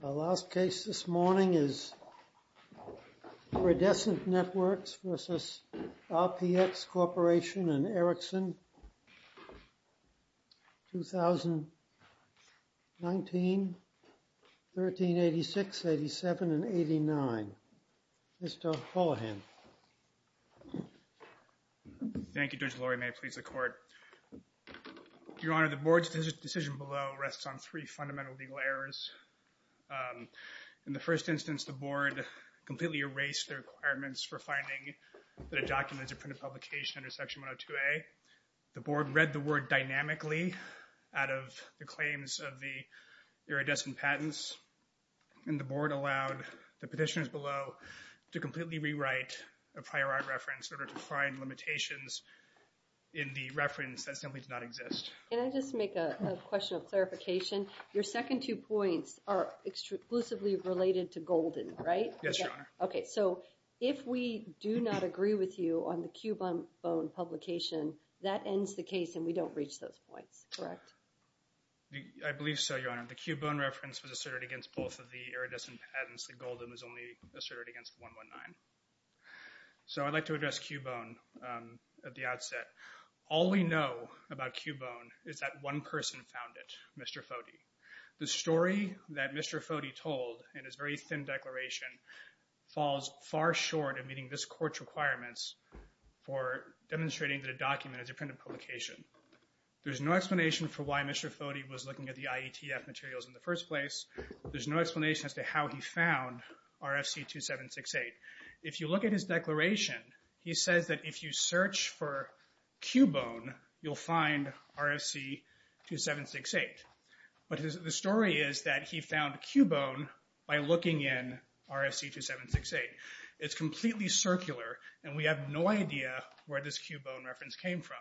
The last case this morning is Iridescent Networks v. RPX Corp. v. Erickson, 2019, 1386, 87, and 89. Mr. Hullohan. Thank you, Judge Lurie. May it please the Court. Your Honor, the Board's decision below rests on three fundamental legal errors. In the first instance, the Board completely erased the requirements for finding that a document is a printed publication under Section 102A. The Board read the word dynamically out of the claims of the iridescent patents, and the Board allowed the petitioners below to completely rewrite a prior art reference in order to find limitations in the reference that simply does not exist. Can I just make a question of clarification? Your second two points are exclusively related to Golden, right? Yes, Your Honor. Okay, so if we do not agree with you on the Cubone publication, that ends the case and we don't reach those points, correct? I believe so, Your Honor. The Cubone reference was asserted against both of the iridescent patents. The Golden was only asserted against 119. So I'd like to address Cubone at the outset. All we know about Cubone is that one person found it, Mr. Foti. The story that Mr. Foti told in his very thin declaration falls far short of meeting this Court's requirements for demonstrating that a document is a printed publication. There's no explanation for why Mr. Foti was looking at the IETF materials in the first place. There's no explanation as to how he found RFC 2768. If you look at his declaration, he says that if you search for Cubone, you'll find RFC 2768. But the story is that he found Cubone by looking in RFC 2768. It's completely circular, and we have no idea where this Cubone reference came from.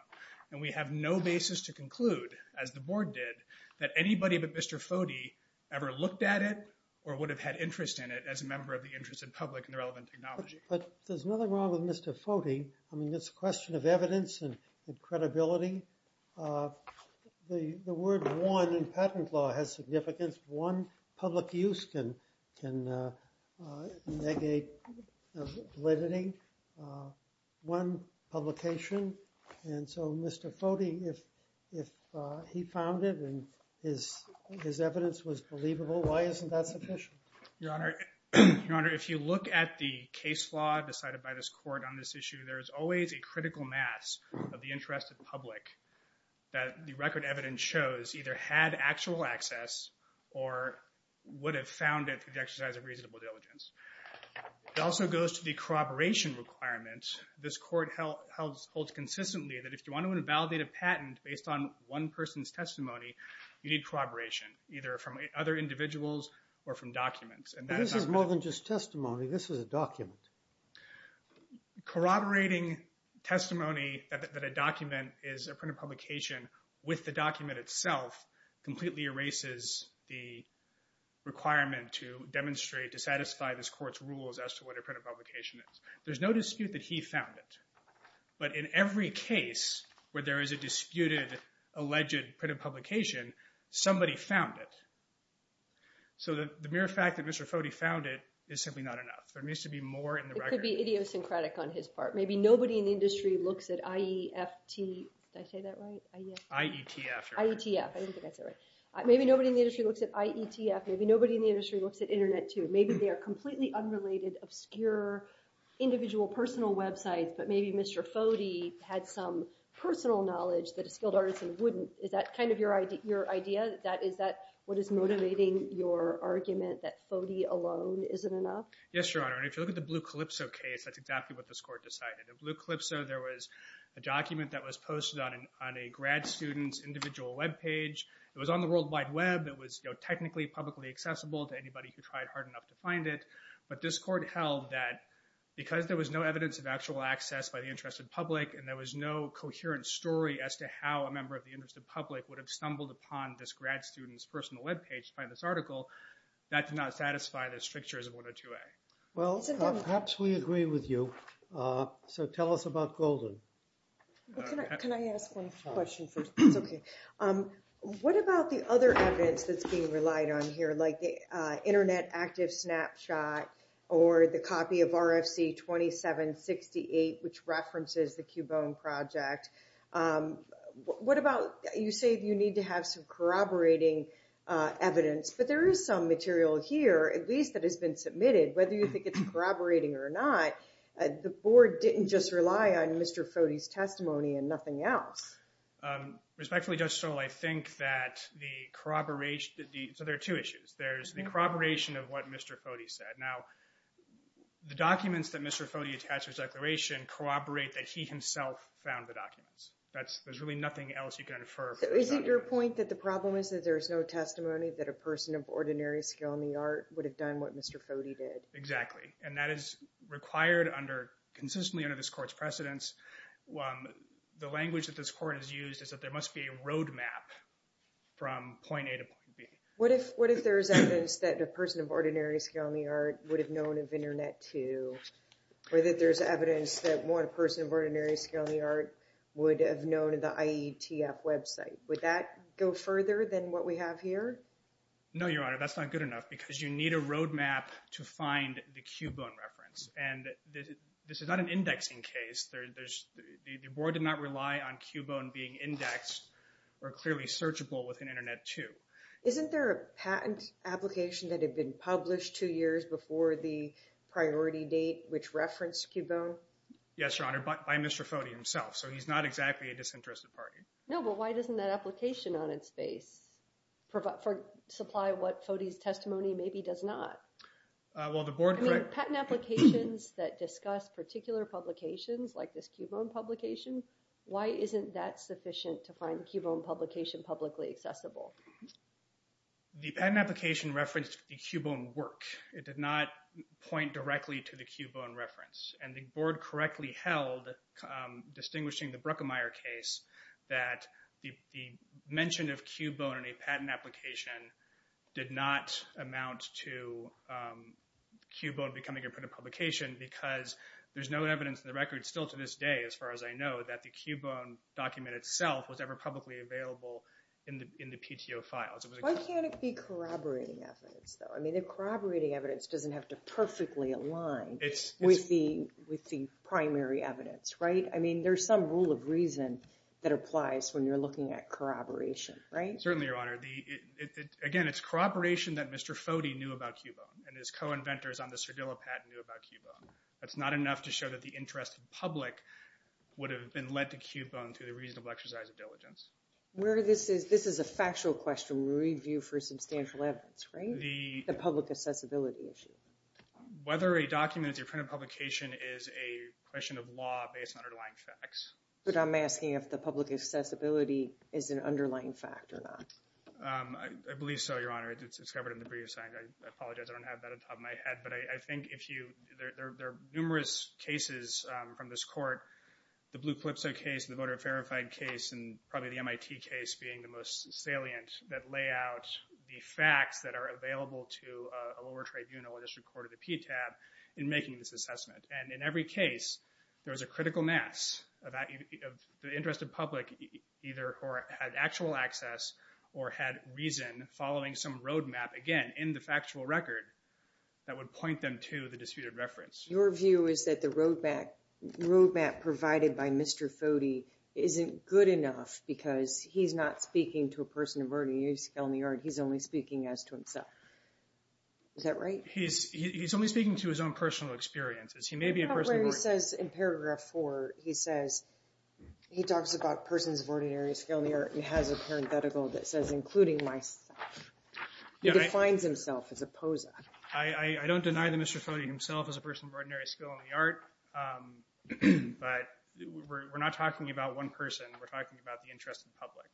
And we have no basis to conclude, as the Board did, that anybody but Mr. Foti ever looked at it or would have had interest in it as a member of the interested public in the relevant technology. But there's nothing wrong with Mr. Foti. I mean, it's a question of evidence and credibility. The word one in patent law has significance. One public use can negate validity. One publication. And so, Mr. Foti, if he found it and his evidence was believable, why isn't that sufficient? Your Honor, if you look at the case law decided by this Court on this issue, there is always a critical mass of the interested public that the record evidence shows either had actual access or would have found it through the exercise of reasonable diligence. It also goes to the corroboration requirements. This Court holds consistently that if you want to validate a patent based on one person's testimony, you need corroboration, either from other individuals or from documents. But this is more than just testimony. This is a document. Corroborating testimony that a document is a printed publication with the document itself completely erases the requirement to demonstrate, to satisfy this Court's rules as to what a printed publication is. There's no dispute that he found it. But in every case where there is a disputed alleged printed publication, somebody found it. So the mere fact that Mr. Foti found it is simply not enough. There needs to be more in the record. It could be idiosyncratic on his part. Maybe nobody in the industry looks at IEFT. Did I say that right? IETF. IETF. I didn't think I said it right. Maybe nobody in the industry looks at IETF. Maybe nobody in the industry looks at Internet, too. Maybe they are completely unrelated, obscure, individual, personal websites, but maybe Mr. Foti had some personal knowledge that a skilled artisan wouldn't. Is that kind of your idea? Is that what is motivating your argument that Foti alone isn't enough? Yes, Your Honor. And if you look at the Blue Calypso case, that's exactly what this Court decided. In Blue Calypso, there was a document that was posted on a grad student's individual webpage. It was on the World Wide Web. It was technically publicly accessible to anybody who tried hard enough to find it. But this Court held that because there was no evidence of actual access by the interested public and there was no coherent story as to how a member of the interested public would have stumbled upon this grad student's personal webpage to find this article, that did not satisfy the strictures of 102A. Well, perhaps we agree with you. So tell us about Golden. Can I ask one question first? That's okay. What about the other evidence that's being relied on here, like the Internet active snapshot or the copy of RFC 2768, which references the Cubone project? You say you need to have some corroborating evidence, but there is some material here, at least, that has been submitted. Whether you think it's corroborating or not, the Board didn't just rely on Mr. Foti's testimony and nothing else. Respectfully, Judge Stoll, I think that the corroboration – so there are two issues. There's the corroboration of what Mr. Foti said. Now, the documents that Mr. Foti attached to his declaration corroborate that he himself found the documents. There's really nothing else you can infer. So is it your point that the problem is that there is no testimony that a person of ordinary skill in the art would have done what Mr. Foti did? Exactly. And that is required consistently under this Court's precedence. The language that this Court has used is that there must be a roadmap from point A to point B. What if there's evidence that a person of ordinary skill in the art would have known of Internet 2? Or that there's evidence that one person of ordinary skill in the art would have known of the IETF website? Would that go further than what we have here? No, Your Honor, that's not good enough because you need a roadmap to find the Cubone reference. And this is not an indexing case. The Board did not rely on Cubone being indexed or clearly searchable within Internet 2. Isn't there a patent application that had been published two years before the priority date which referenced Cubone? Yes, Your Honor, by Mr. Foti himself. So he's not exactly a disinterested party. No, but why doesn't that application on its face supply what Foti's testimony maybe does not? I mean, patent applications that discuss particular publications like this Cubone publication, why isn't that sufficient to find the Cubone publication publicly accessible? The patent application referenced the Cubone work. It did not point directly to the Cubone reference. And the Board correctly held, distinguishing the Bruckemeyer case, that the mention of Cubone in a patent application did not amount to Cubone becoming a printed publication because there's no evidence in the record still to this day, as far as I know, that the Cubone document itself was ever publicly available in the PTO files. Why can't it be corroborating evidence, though? I mean, the corroborating evidence doesn't have to perfectly align with the primary evidence, right? I mean, there's some rule of reason that applies when you're looking at corroboration, right? Certainly, Your Honor. Again, it's corroboration that Mr. Foti knew about Cubone and his co-inventors on the Cerdillo patent knew about Cubone. That's not enough to show that the interest of the public would have been led to Cubone through the reasonable exercise of diligence. This is a factual question we review for substantial evidence, right? The public accessibility issue. Whether a document is a printed publication is a question of law based on underlying facts. But I'm asking if the public accessibility is an underlying fact or not. I believe so, Your Honor. It's covered in the briefs. I apologize. I don't have that on top of my head. But I think there are numerous cases from this court, the Blue Calypso case, the voter verified case, and probably the MIT case being the most salient, that lay out the facts that are available to a lower tribunal, as recorded in the PTAB, in making this assessment. And in every case, there was a critical mass of the interest of public, either who had actual access or had reason following some roadmap, again, in the factual record that would point them to the disputed reference. Your view is that the roadmap provided by Mr. Foti isn't good enough because he's not speaking to a person of early use on the art. He's only speaking as to himself. Is that right? He's only speaking to his own personal experiences. He may be a person of early use. In Paragraph 4, he says he talks about persons of ordinary skill in the art and has a parenthetical that says including myself. He defines himself as a poser. I don't deny that Mr. Foti himself is a person of ordinary skill in the art, but we're not talking about one person. We're talking about the interest of the public.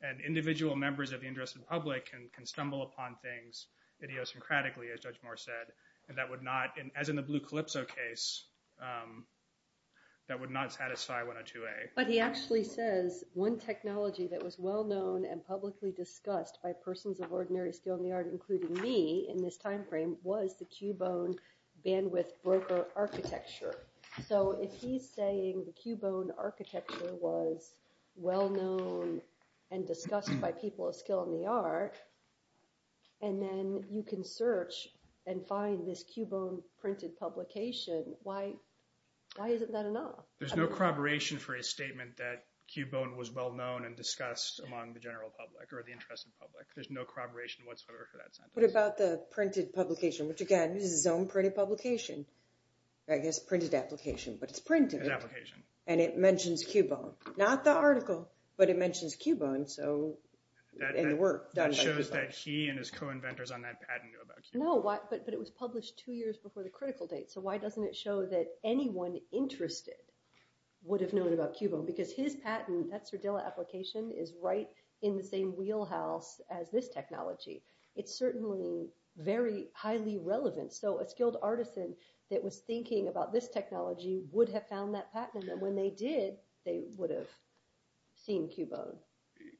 And individual members of the interest of the public can stumble upon things idiosyncratically, as Judge Moore said, and that would not, as in the Blue Calypso case, that would not satisfy 102A. But he actually says one technology that was well-known and publicly discussed by persons of ordinary skill in the art, including me in this timeframe, was the Cubone bandwidth broker architecture. So if he's saying the Cubone architecture was well-known and discussed by people of skill in the art, and then you can search and find this Cubone printed publication, why isn't that enough? There's no corroboration for a statement that Cubone was well-known and discussed among the general public or the interested public. There's no corroboration whatsoever for that sentence. What about the printed publication, which again, this is his own printed publication. I guess printed application, but it's printed. It's an application. And it mentions Cubone, not the article, but it mentions Cubone, and the work. That shows that he and his co-inventors on that patent knew about Cubone. No, but it was published two years before the critical date. So why doesn't it show that anyone interested would have known about Cubone? Because his patent, that Cerdillo application, is right in the same wheelhouse as this technology. It's certainly very highly relevant. So a skilled artisan that was thinking about this technology would have found that patent. And when they did, they would have seen Cubone.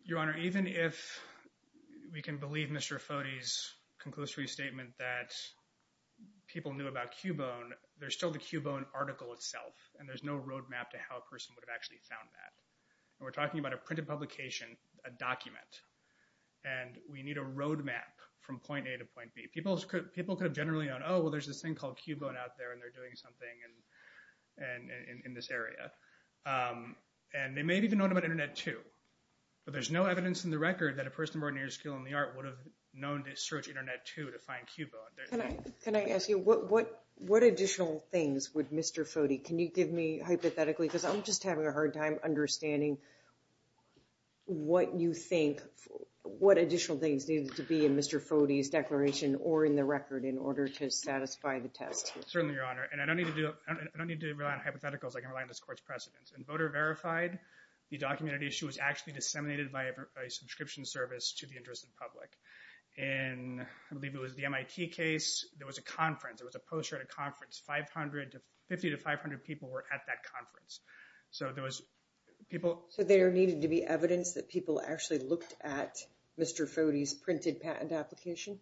Your Honor, even if we can believe Mr. Foti's conclusory statement that people knew about Cubone, there's still the Cubone article itself, and there's no road map to how a person would have actually found that. And we're talking about a printed publication, a document, and we need a road map from point A to point B. People could have generally gone, oh, well, there's this thing called Cubone out there, and they're doing something in this area. And they may have even known about Internet 2. But there's no evidence in the record that a person of ordinary skill in the art would have known to search Internet 2 to find Cubone. Can I ask you, what additional things would Mr. Foti, can you give me hypothetically, because I'm just having a hard time understanding what you think, what additional things needed to be in Mr. Foti's declaration or in the record in order to satisfy the test? Certainly, Your Honor. And I don't need to rely on hypotheticals. I can rely on this Court's precedents. In Voter Verified, the documented issue was actually disseminated by a subscription service to the interested public. In, I believe it was the MIT case, there was a conference. There was a poster at a conference. Fifty to five hundred people were at that conference. So there was people. So there needed to be evidence that people actually looked at Mr. Foti's printed patent application.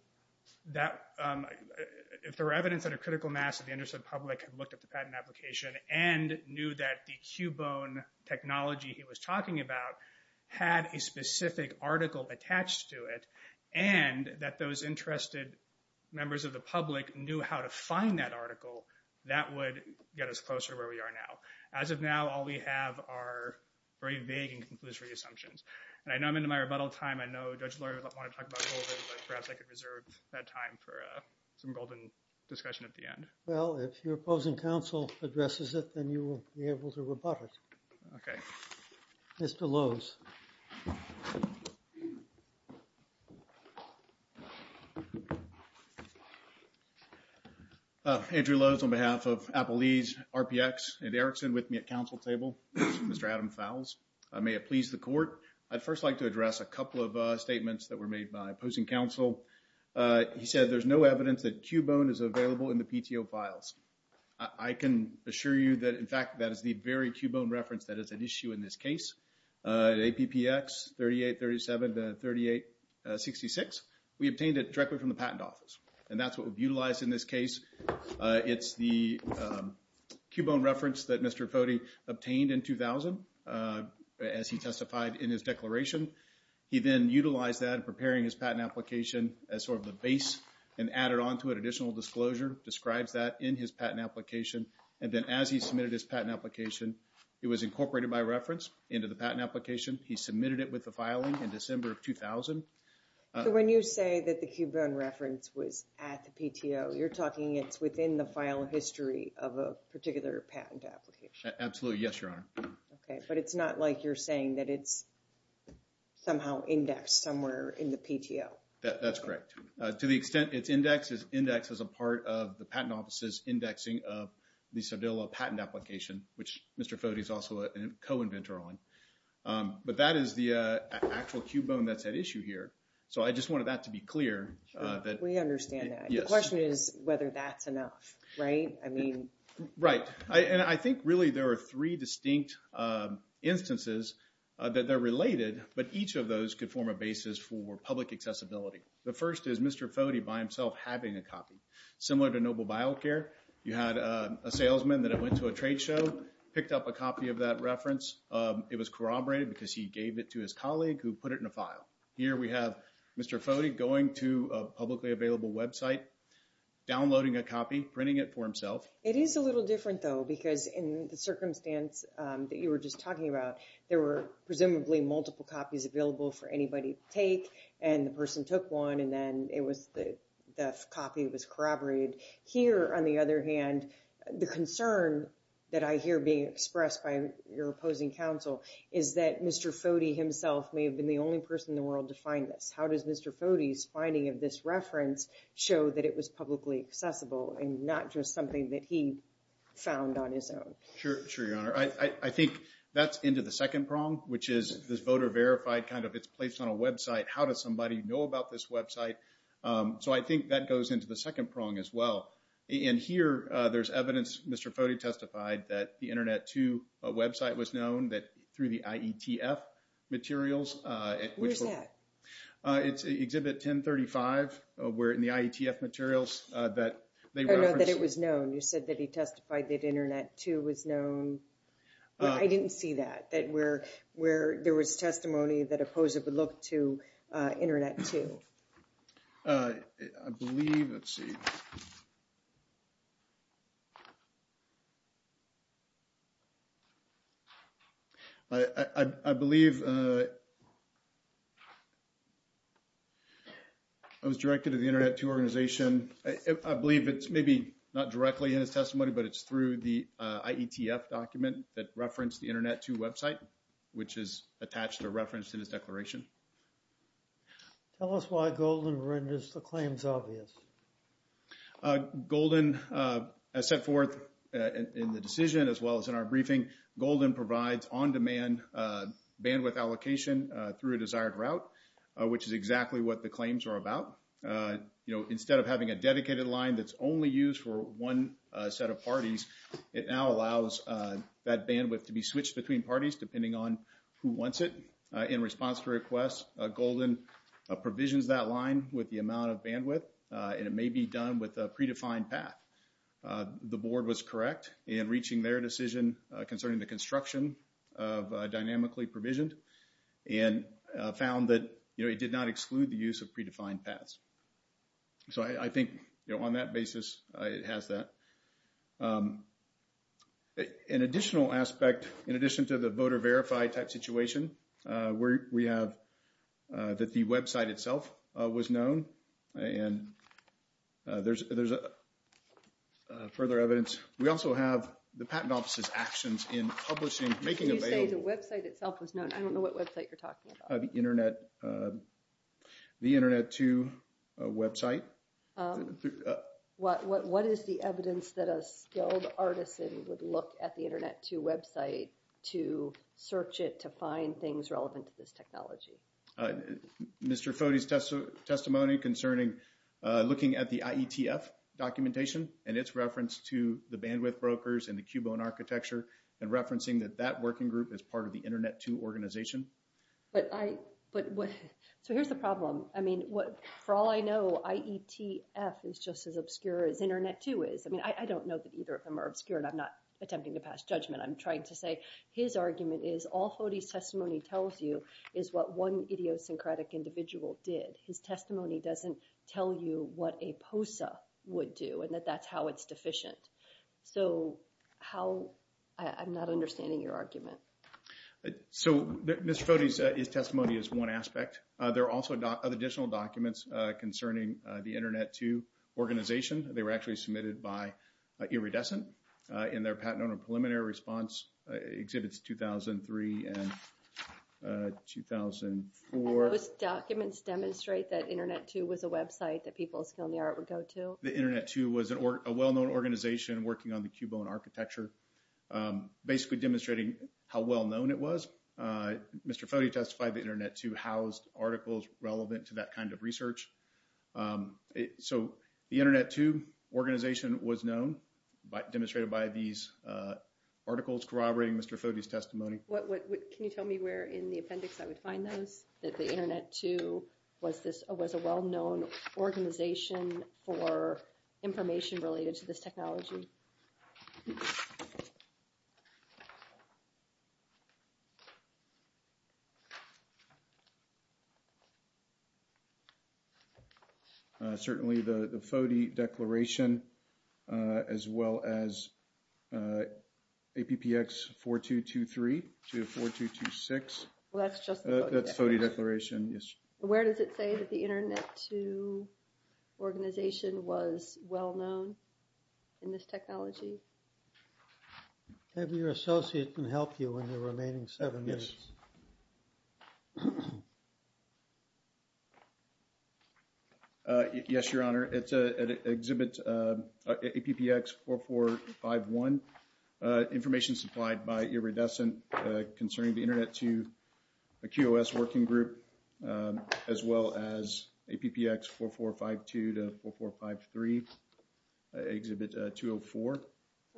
If there were evidence that a critical mass of the interested public had looked at the patent application and knew that the Cubone technology he was talking about had a specific article attached to it and that those interested members of the public knew how to find that article, that would get us closer to where we are now. As of now, all we have are very vague and conclusory assumptions. And I know I'm into my rebuttal time. I know Judge Lurie might want to talk about it a little bit, but perhaps I could reserve that time for some golden discussion at the end. Well, if your opposing counsel addresses it, then you will be able to rebut it. Okay. Mr. Lowe's. Andrew Lowe's on behalf of Applebee's, RPX, and Erickson with me at council table. Mr. Adam Fowles. May it please the Court. I'd first like to address a couple of statements that were made by opposing counsel. He said there's no evidence that Cubone is available in the PTO files. I can assure you that, in fact, that is the very Cubone reference that is at issue in this case. At APPX 3837 to 3866, we obtained it directly from the patent office. And that's what we've utilized in this case. It's the Cubone reference that Mr. Potey obtained in 2000, as he testified in his declaration. He then utilized that in preparing his patent application as sort of the base and added on to it additional disclosure, describes that in his patent application. And then as he submitted his patent application, it was incorporated by reference into the patent application. He submitted it with the filing in December of 2000. So when you say that the Cubone reference was at the PTO, you're talking it's within the file history of a particular patent application? Absolutely, yes, Your Honor. Okay, but it's not like you're saying that it's somehow indexed somewhere in the PTO. That's correct. To the extent it's indexed, it's indexed as a part of the patent office's indexing of the Cerdillo patent application, which Mr. Potey is also a co-inventor on. But that is the actual Cubone that's at issue here. So I just wanted that to be clear. We understand that. The question is whether that's enough, right? I mean... Right, and I think really there are three distinct instances that they're related, but each of those could form a basis for public accessibility. The first is Mr. Potey by himself having a copy. Similar to Noble BioCare, you had a salesman that went to a trade show, picked up a copy of that reference. It was corroborated because he gave it to his colleague who put it in a file. Here we have Mr. Potey going to a publicly available website, downloading a copy, printing it for himself. It is a little different, though, because in the circumstance that you were just talking about, there were presumably multiple copies available for anybody to take, and the person took one, and then the copy was corroborated. Here, on the other hand, the concern that I hear being expressed by your opposing counsel is that Mr. Potey himself may have been the only person in the world to find this. How does Mr. Potey's finding of this reference show that it was publicly accessible and not just something that he found on his own? Sure, Your Honor. I think that's into the second prong, which is this voter-verified kind of it's placed on a website. How does somebody know about this website? So I think that goes into the second prong as well. And here there's evidence Mr. Potey testified that the Internet 2 website was known through the IETF materials. Where's that? It's Exhibit 1035, where in the IETF materials that they referenced. Oh, no, that it was known. You said that he testified that Internet 2 was known. I didn't see that, that where there was testimony that opposed it would look to Internet 2. I believe, let's see. I believe it was directed to the Internet 2 organization. I believe it's maybe not directly in his testimony, but it's through the IETF document that referenced the Internet 2 website, which is attached or referenced in his declaration. Tell us why Golden renders the claims obvious. Golden, as set forth in the decision as well as in our briefing, Golden provides on-demand bandwidth allocation through a desired route, which is exactly what the claims are about. You know, instead of having a dedicated line that's only used for one set of parties, it now allows that bandwidth to be switched between parties depending on who wants it. In response to requests, Golden provisions that line with the amount of bandwidth, and it may be done with a predefined path. The board was correct in reaching their decision concerning the construction of dynamically provisioned and found that, you know, it did not exclude the use of predefined paths. So I think, you know, on that basis, it has that. An additional aspect, in addition to the voter verified type situation, we have that the website itself was known. And there's further evidence. We also have the Patent Office's actions in publishing, making available. You say the website itself was known. I don't know what website you're talking about. The Internet2 website. What is the evidence that a skilled artisan would look at the Internet2 website to search it, to find things relevant to this technology? Mr. Foti's testimony concerning looking at the IETF documentation and its reference to the bandwidth brokers and the Cubone architecture and referencing that that working group is part of the Internet2 organization. So here's the problem. I mean, for all I know, IETF is just as obscure as Internet2 is. I mean, I don't know that either of them are obscure, and I'm not attempting to pass judgment. I'm trying to say his argument is all Foti's testimony tells you is what one idiosyncratic individual did. His testimony doesn't tell you what a POSA would do and that that's how it's deficient. So how – I'm not understanding your argument. So Mr. Foti's testimony is one aspect. There are also additional documents concerning the Internet2 organization. They were actually submitted by Iridescent in their Patent Owner Preliminary Response Exhibits 2003 and 2004. And those documents demonstrate that Internet2 was a website that people of skilled in the art would go to? The Internet2 was a well-known organization working on the Cubone architecture, basically demonstrating how well-known it was. Mr. Foti testified that Internet2 housed articles relevant to that kind of research. So the Internet2 organization was known, demonstrated by these articles corroborating Mr. Foti's testimony. Can you tell me where in the appendix I would find those? That the Internet2 was a well-known organization for information related to this technology? Certainly the Foti Declaration as well as APPX 4223 to 4226. That's just the Foti Declaration? That's the Foti Declaration, yes. Where does it say that the Internet2 organization was well-known in this technology? Have your associate can help you in the remaining seven minutes. Yes, Your Honor. It's at Exhibit APPX 4451. Information supplied by Iridescent concerning the Internet2 QOS working group as well as APPX 4452 to 4453, Exhibit 204.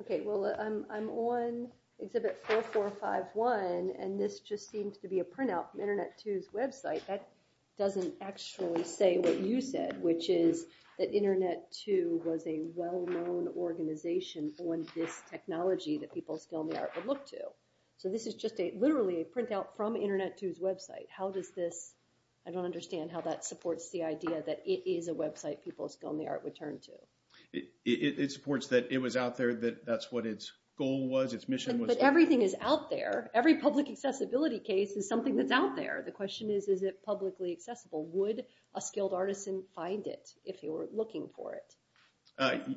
Okay, well I'm on Exhibit 4451 and this just seems to be a printout from Internet2's website. That doesn't actually say what you said, which is that Internet2 was a well-known organization on this technology that people of skill and the art would look to. So this is just literally a printout from Internet2's website. How does this, I don't understand how that supports the idea that it is a website people of skill and the art would turn to. It supports that it was out there, that that's what its goal was, its mission was. But everything is out there. Every public accessibility case is something that's out there. The question is, is it publicly accessible? Would a skilled artisan find it if you were looking for it?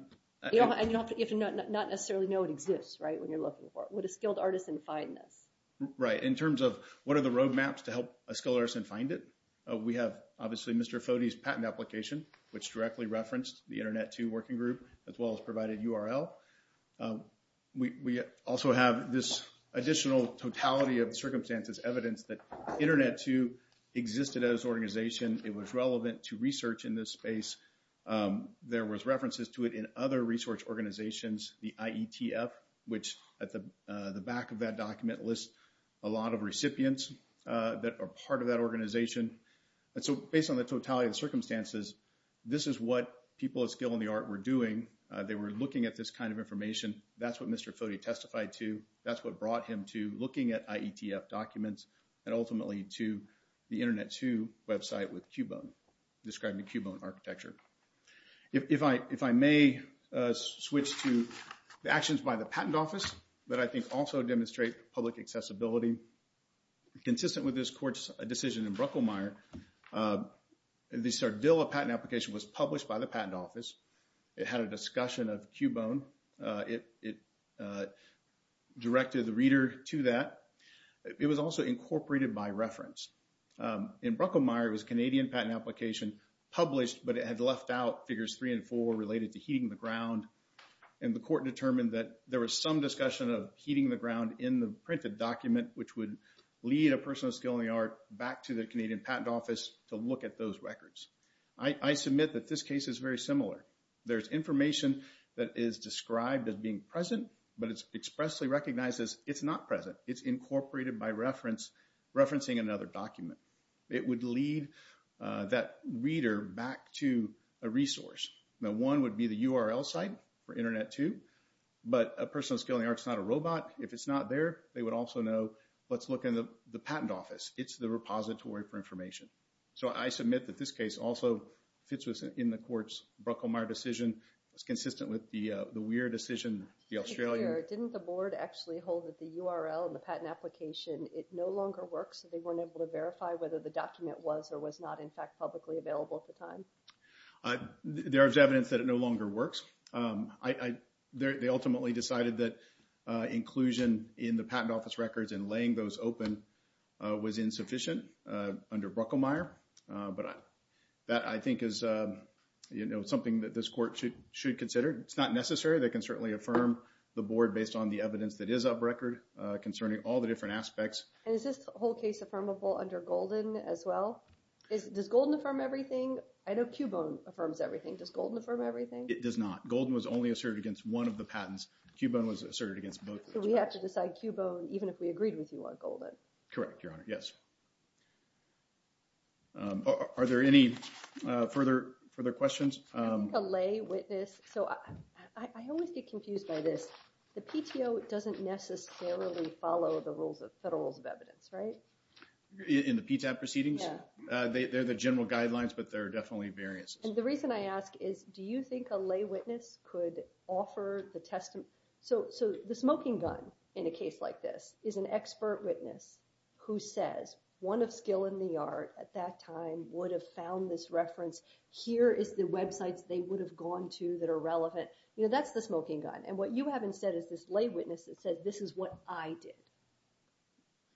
You don't have to necessarily know it exists, right, when you're looking for it. Would a skilled artisan find this? Right, in terms of what are the roadmaps to help a skilled artisan find it, we have obviously Mr. Foti's patent application, which directly referenced the Internet2 working group as well as provided URL. We also have this additional totality of circumstances, evidence that Internet2 existed as an organization. It was relevant to research in this space. There was references to it in other research organizations, the IETF, which at the back of that document lists a lot of recipients that are part of that organization. And so based on the totality of circumstances, this is what people of skill and the art were doing. They were looking at this kind of information. That's what Mr. Foti testified to. That's what brought him to looking at IETF documents and ultimately to the Internet2 website with Cubone, describing the Cubone architecture. If I may switch to the actions by the Patent Office that I think also demonstrate public accessibility. Consistent with this court's decision in Brucklemeyer, the Sardella patent application was published by the Patent Office. It had a discussion of Cubone. It directed the reader to that. It was also incorporated by reference. In Brucklemeyer, it was a Canadian patent application published, but it had left out figures three and four related to heating the ground. And the court determined that there was some discussion of heating the ground in the printed document, which would lead a person of skill and the art back to the Canadian Patent Office to look at those records. I submit that this case is very similar. There's information that is described as being present, but it's expressly recognized as it's not present. It's incorporated by referencing another document. It would lead that reader back to a resource. Now, one would be the URL site for Internet2, but a person of skill and the art is not a robot. If it's not there, they would also know, let's look in the Patent Office. It's the repository for information. So I submit that this case also fits within the court's Brucklemeyer decision. It's consistent with the Weir decision, the Australian. Didn't the board actually hold that the URL in the patent application, it no longer works? They weren't able to verify whether the document was or was not, in fact, publicly available at the time. There is evidence that it no longer works. They ultimately decided that inclusion in the Patent Office records and laying those open was insufficient. Under Brucklemeyer. But that, I think, is something that this court should consider. It's not necessary. They can certainly affirm the board based on the evidence that is up record concerning all the different aspects. And is this whole case affirmable under Golden as well? Does Golden affirm everything? I know Cubone affirms everything. Does Golden affirm everything? It does not. Golden was only asserted against one of the patents. Cubone was asserted against both. So we have to decide Cubone even if we agreed with you on Golden. Correct, Your Honor. Yes. Are there any further questions? I think a lay witness. So I always get confused by this. The PTO doesn't necessarily follow the rules of federal rules of evidence, right? In the PTAP proceedings? Yeah. They're the general guidelines, but there are definitely variances. And the reason I ask is, do you think a lay witness could offer the testimony? So the smoking gun in a case like this is an expert witness who says, one of skill in the art at that time would have found this reference. Here is the websites they would have gone to that are relevant. You know, that's the smoking gun. And what you haven't said is this lay witness that says, this is what I did.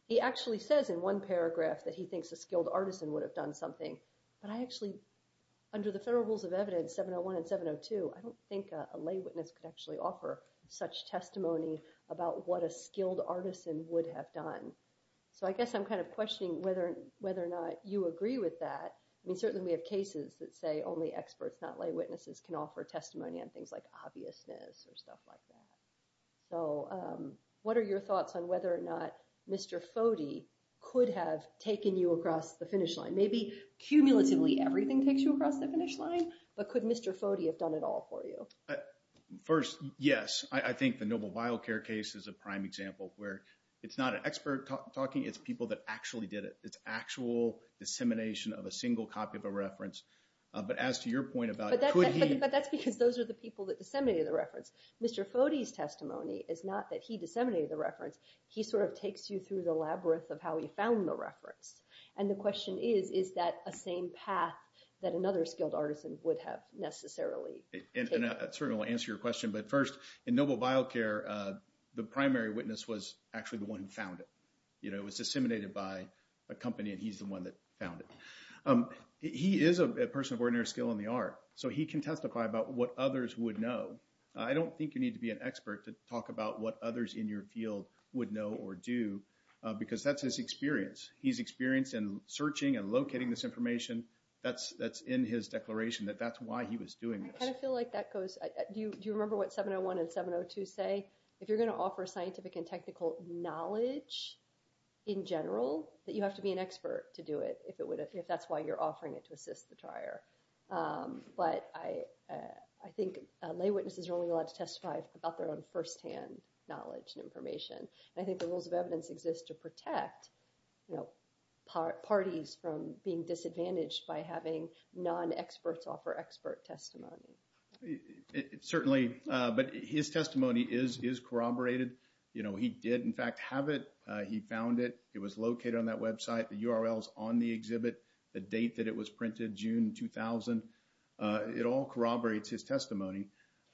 He actually says in one paragraph that he thinks a skilled artisan would have done something. But I actually, under the federal rules of evidence, 701 and 702, I don't think a lay witness could actually offer such testimony about what a skilled artisan would have done. So I guess I'm kind of questioning whether or not you agree with that. I mean, certainly we have cases that say only experts, not lay witnesses, can offer testimony on things like obviousness or stuff like that. So what are your thoughts on whether or not Mr. Foti could have taken you across the finish line? Maybe cumulatively everything takes you across the finish line, but could Mr. Foti have done it all for you? First, yes. I think the Noble Vial Care case is a prime example where it's not an expert talking. It's people that actually did it. It's actual dissemination of a single copy of a reference. But as to your point about could he? But that's because those are the people that disseminated the reference. Mr. Foti's testimony is not that he disseminated the reference. He sort of takes you through the labyrinth of how he found the reference. And the question is, is that a same path that another skilled artisan would have necessarily taken? And I certainly will answer your question. But first, in Noble Vial Care, the primary witness was actually the one who found it. It was disseminated by a company, and he's the one that found it. He is a person of ordinary skill in the art, so he can testify about what others would know. I don't think you need to be an expert to talk about what others in your field would know or do, because that's his experience. He's experienced in searching and locating this information. That's in his declaration, that that's why he was doing this. I kind of feel like that goes. Do you remember what 701 and 702 say? If you're going to offer scientific and technical knowledge in general, that you have to be an expert to do it if that's why you're offering it to assist the trier. But I think lay witnesses are only allowed to testify about their own firsthand knowledge and information. I think the rules of evidence exist to protect parties from being disadvantaged by having non-experts offer expert testimony. Certainly, but his testimony is corroborated. He did, in fact, have it. He found it. It was located on that website. The URL is on the exhibit, the date that it was printed, June 2000. It all corroborates his testimony.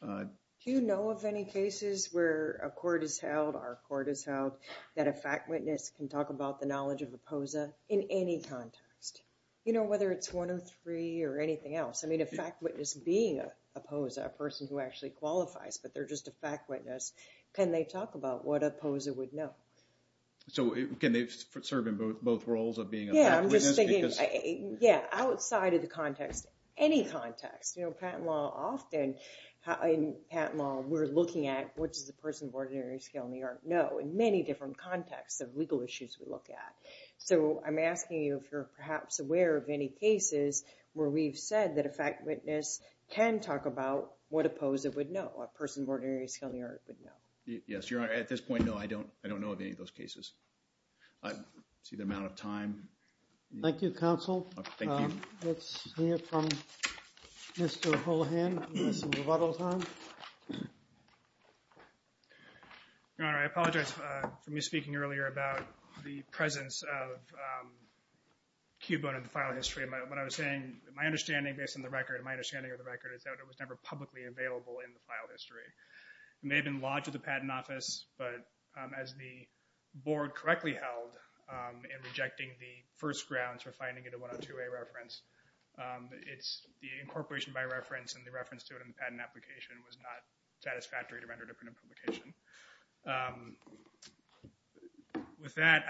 Do you know of any cases where a court is held, our court is held, that a fact witness can talk about the knowledge of a POSA in any context? You know, whether it's 103 or anything else. I mean, a fact witness being a POSA, a person who actually qualifies, but they're just a fact witness, can they talk about what a POSA would know? So can they serve in both roles of being a fact witness? Yeah, I'm just thinking, yeah, outside of the context, any context. You know, patent law often, in patent law, we're looking at, what does a person of ordinary skill in the art know, in many different contexts of legal issues we look at. So I'm asking you if you're perhaps aware of any cases where we've said that a fact witness can talk about what a POSA would know, a person of ordinary skill in the art would know. Yes, Your Honor, at this point, no, I don't know of any of those cases. I see the amount of time. Thank you, counsel. Thank you. Let's hear from Mr. Holohan. This is rebuttal time. Your Honor, I apologize for me speaking earlier about the presence of Cubone in the file history. What I was saying, my understanding based on the record, and my understanding of the record, is that it was never publicly available in the file history. It may have been lodged with the Patent Office, but as the Board correctly held in rejecting the first grounds for finding it a 102A reference, it's the incorporation by reference and the reference to it in the patent application was not satisfactory to render it a print publication. With that,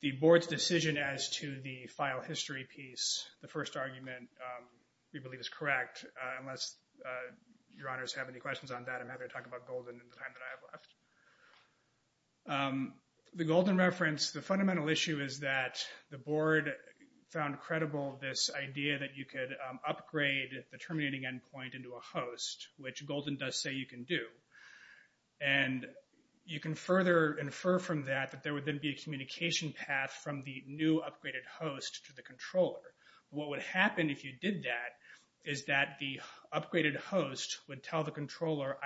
the Board's decision as to the file history piece, the first argument we believe is correct, unless Your Honors have any questions on that. I'm happy to talk about Golden in the time that I have left. The Golden reference, the fundamental issue is that the Board found credible this idea that you could upgrade the terminating endpoint into a host, which Golden does say you can do. And you can further infer from that that there would then be a communication path from the new upgraded host to the controller. What would happen if you did that is that the upgraded host would tell the controller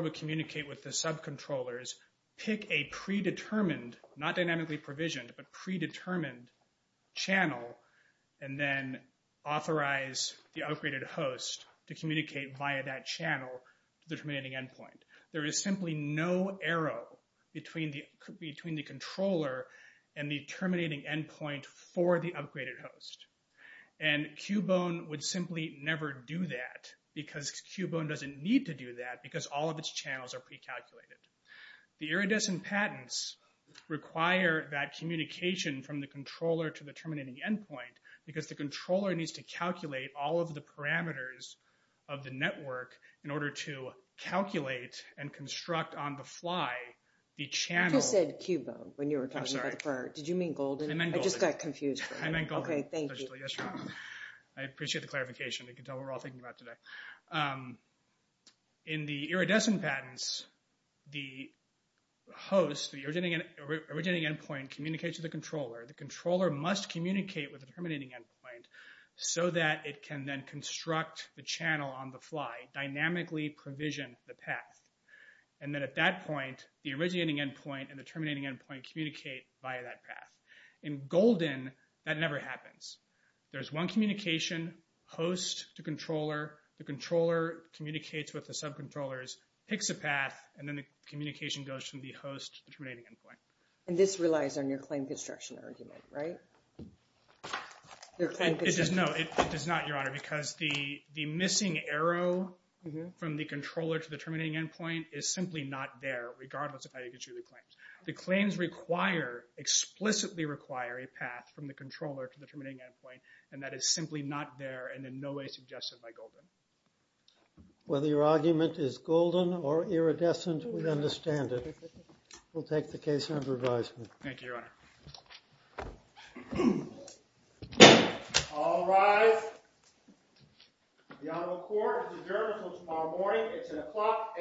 would communicate with the subcontrollers, pick a predetermined, not dynamically provisioned, but predetermined channel, and then authorize the upgraded host to communicate via that channel to the terminating endpoint. There is simply no arrow between the controller and the terminating endpoint for the upgraded host. And Cubone would simply never do that because Cubone doesn't need to do that because all of its channels are pre-calculated. The iridescent patents require that communication from the controller to the terminating endpoint because the controller needs to calculate all of the parameters of the network in order to calculate and construct on the fly the channel. You just said Cubone when you were talking about the prior. I'm sorry. Did you mean Golden? I meant Golden. I just got confused. I meant Golden. Okay, thank you. I appreciate the clarification. I can tell what we're all thinking about today. In the iridescent patents, the host, the originating endpoint, communicates to the controller. The controller must communicate with the terminating endpoint so that it can then construct the channel on the fly, dynamically provision the path, and then at that point, the originating endpoint and the terminating endpoint communicate via that path. In Golden, that never happens. There's one communication host to controller. The controller communicates with the subcontrollers, picks a path, and then the communication goes from the host to the terminating endpoint. And this relies on your claim construction argument, right? It does not, Your Honor, because the missing arrow from the controller to the terminating endpoint is simply not there, regardless of how you construe the claims. The claims explicitly require a path from the controller to the terminating endpoint, and that is simply not there and in no way suggested by Golden. Whether your argument is golden or iridescent, we understand it. We'll take the case under advisement. Thank you, Your Honor. All rise. The Honorable Court is adjourned until tomorrow morning. It's at o'clock a.m.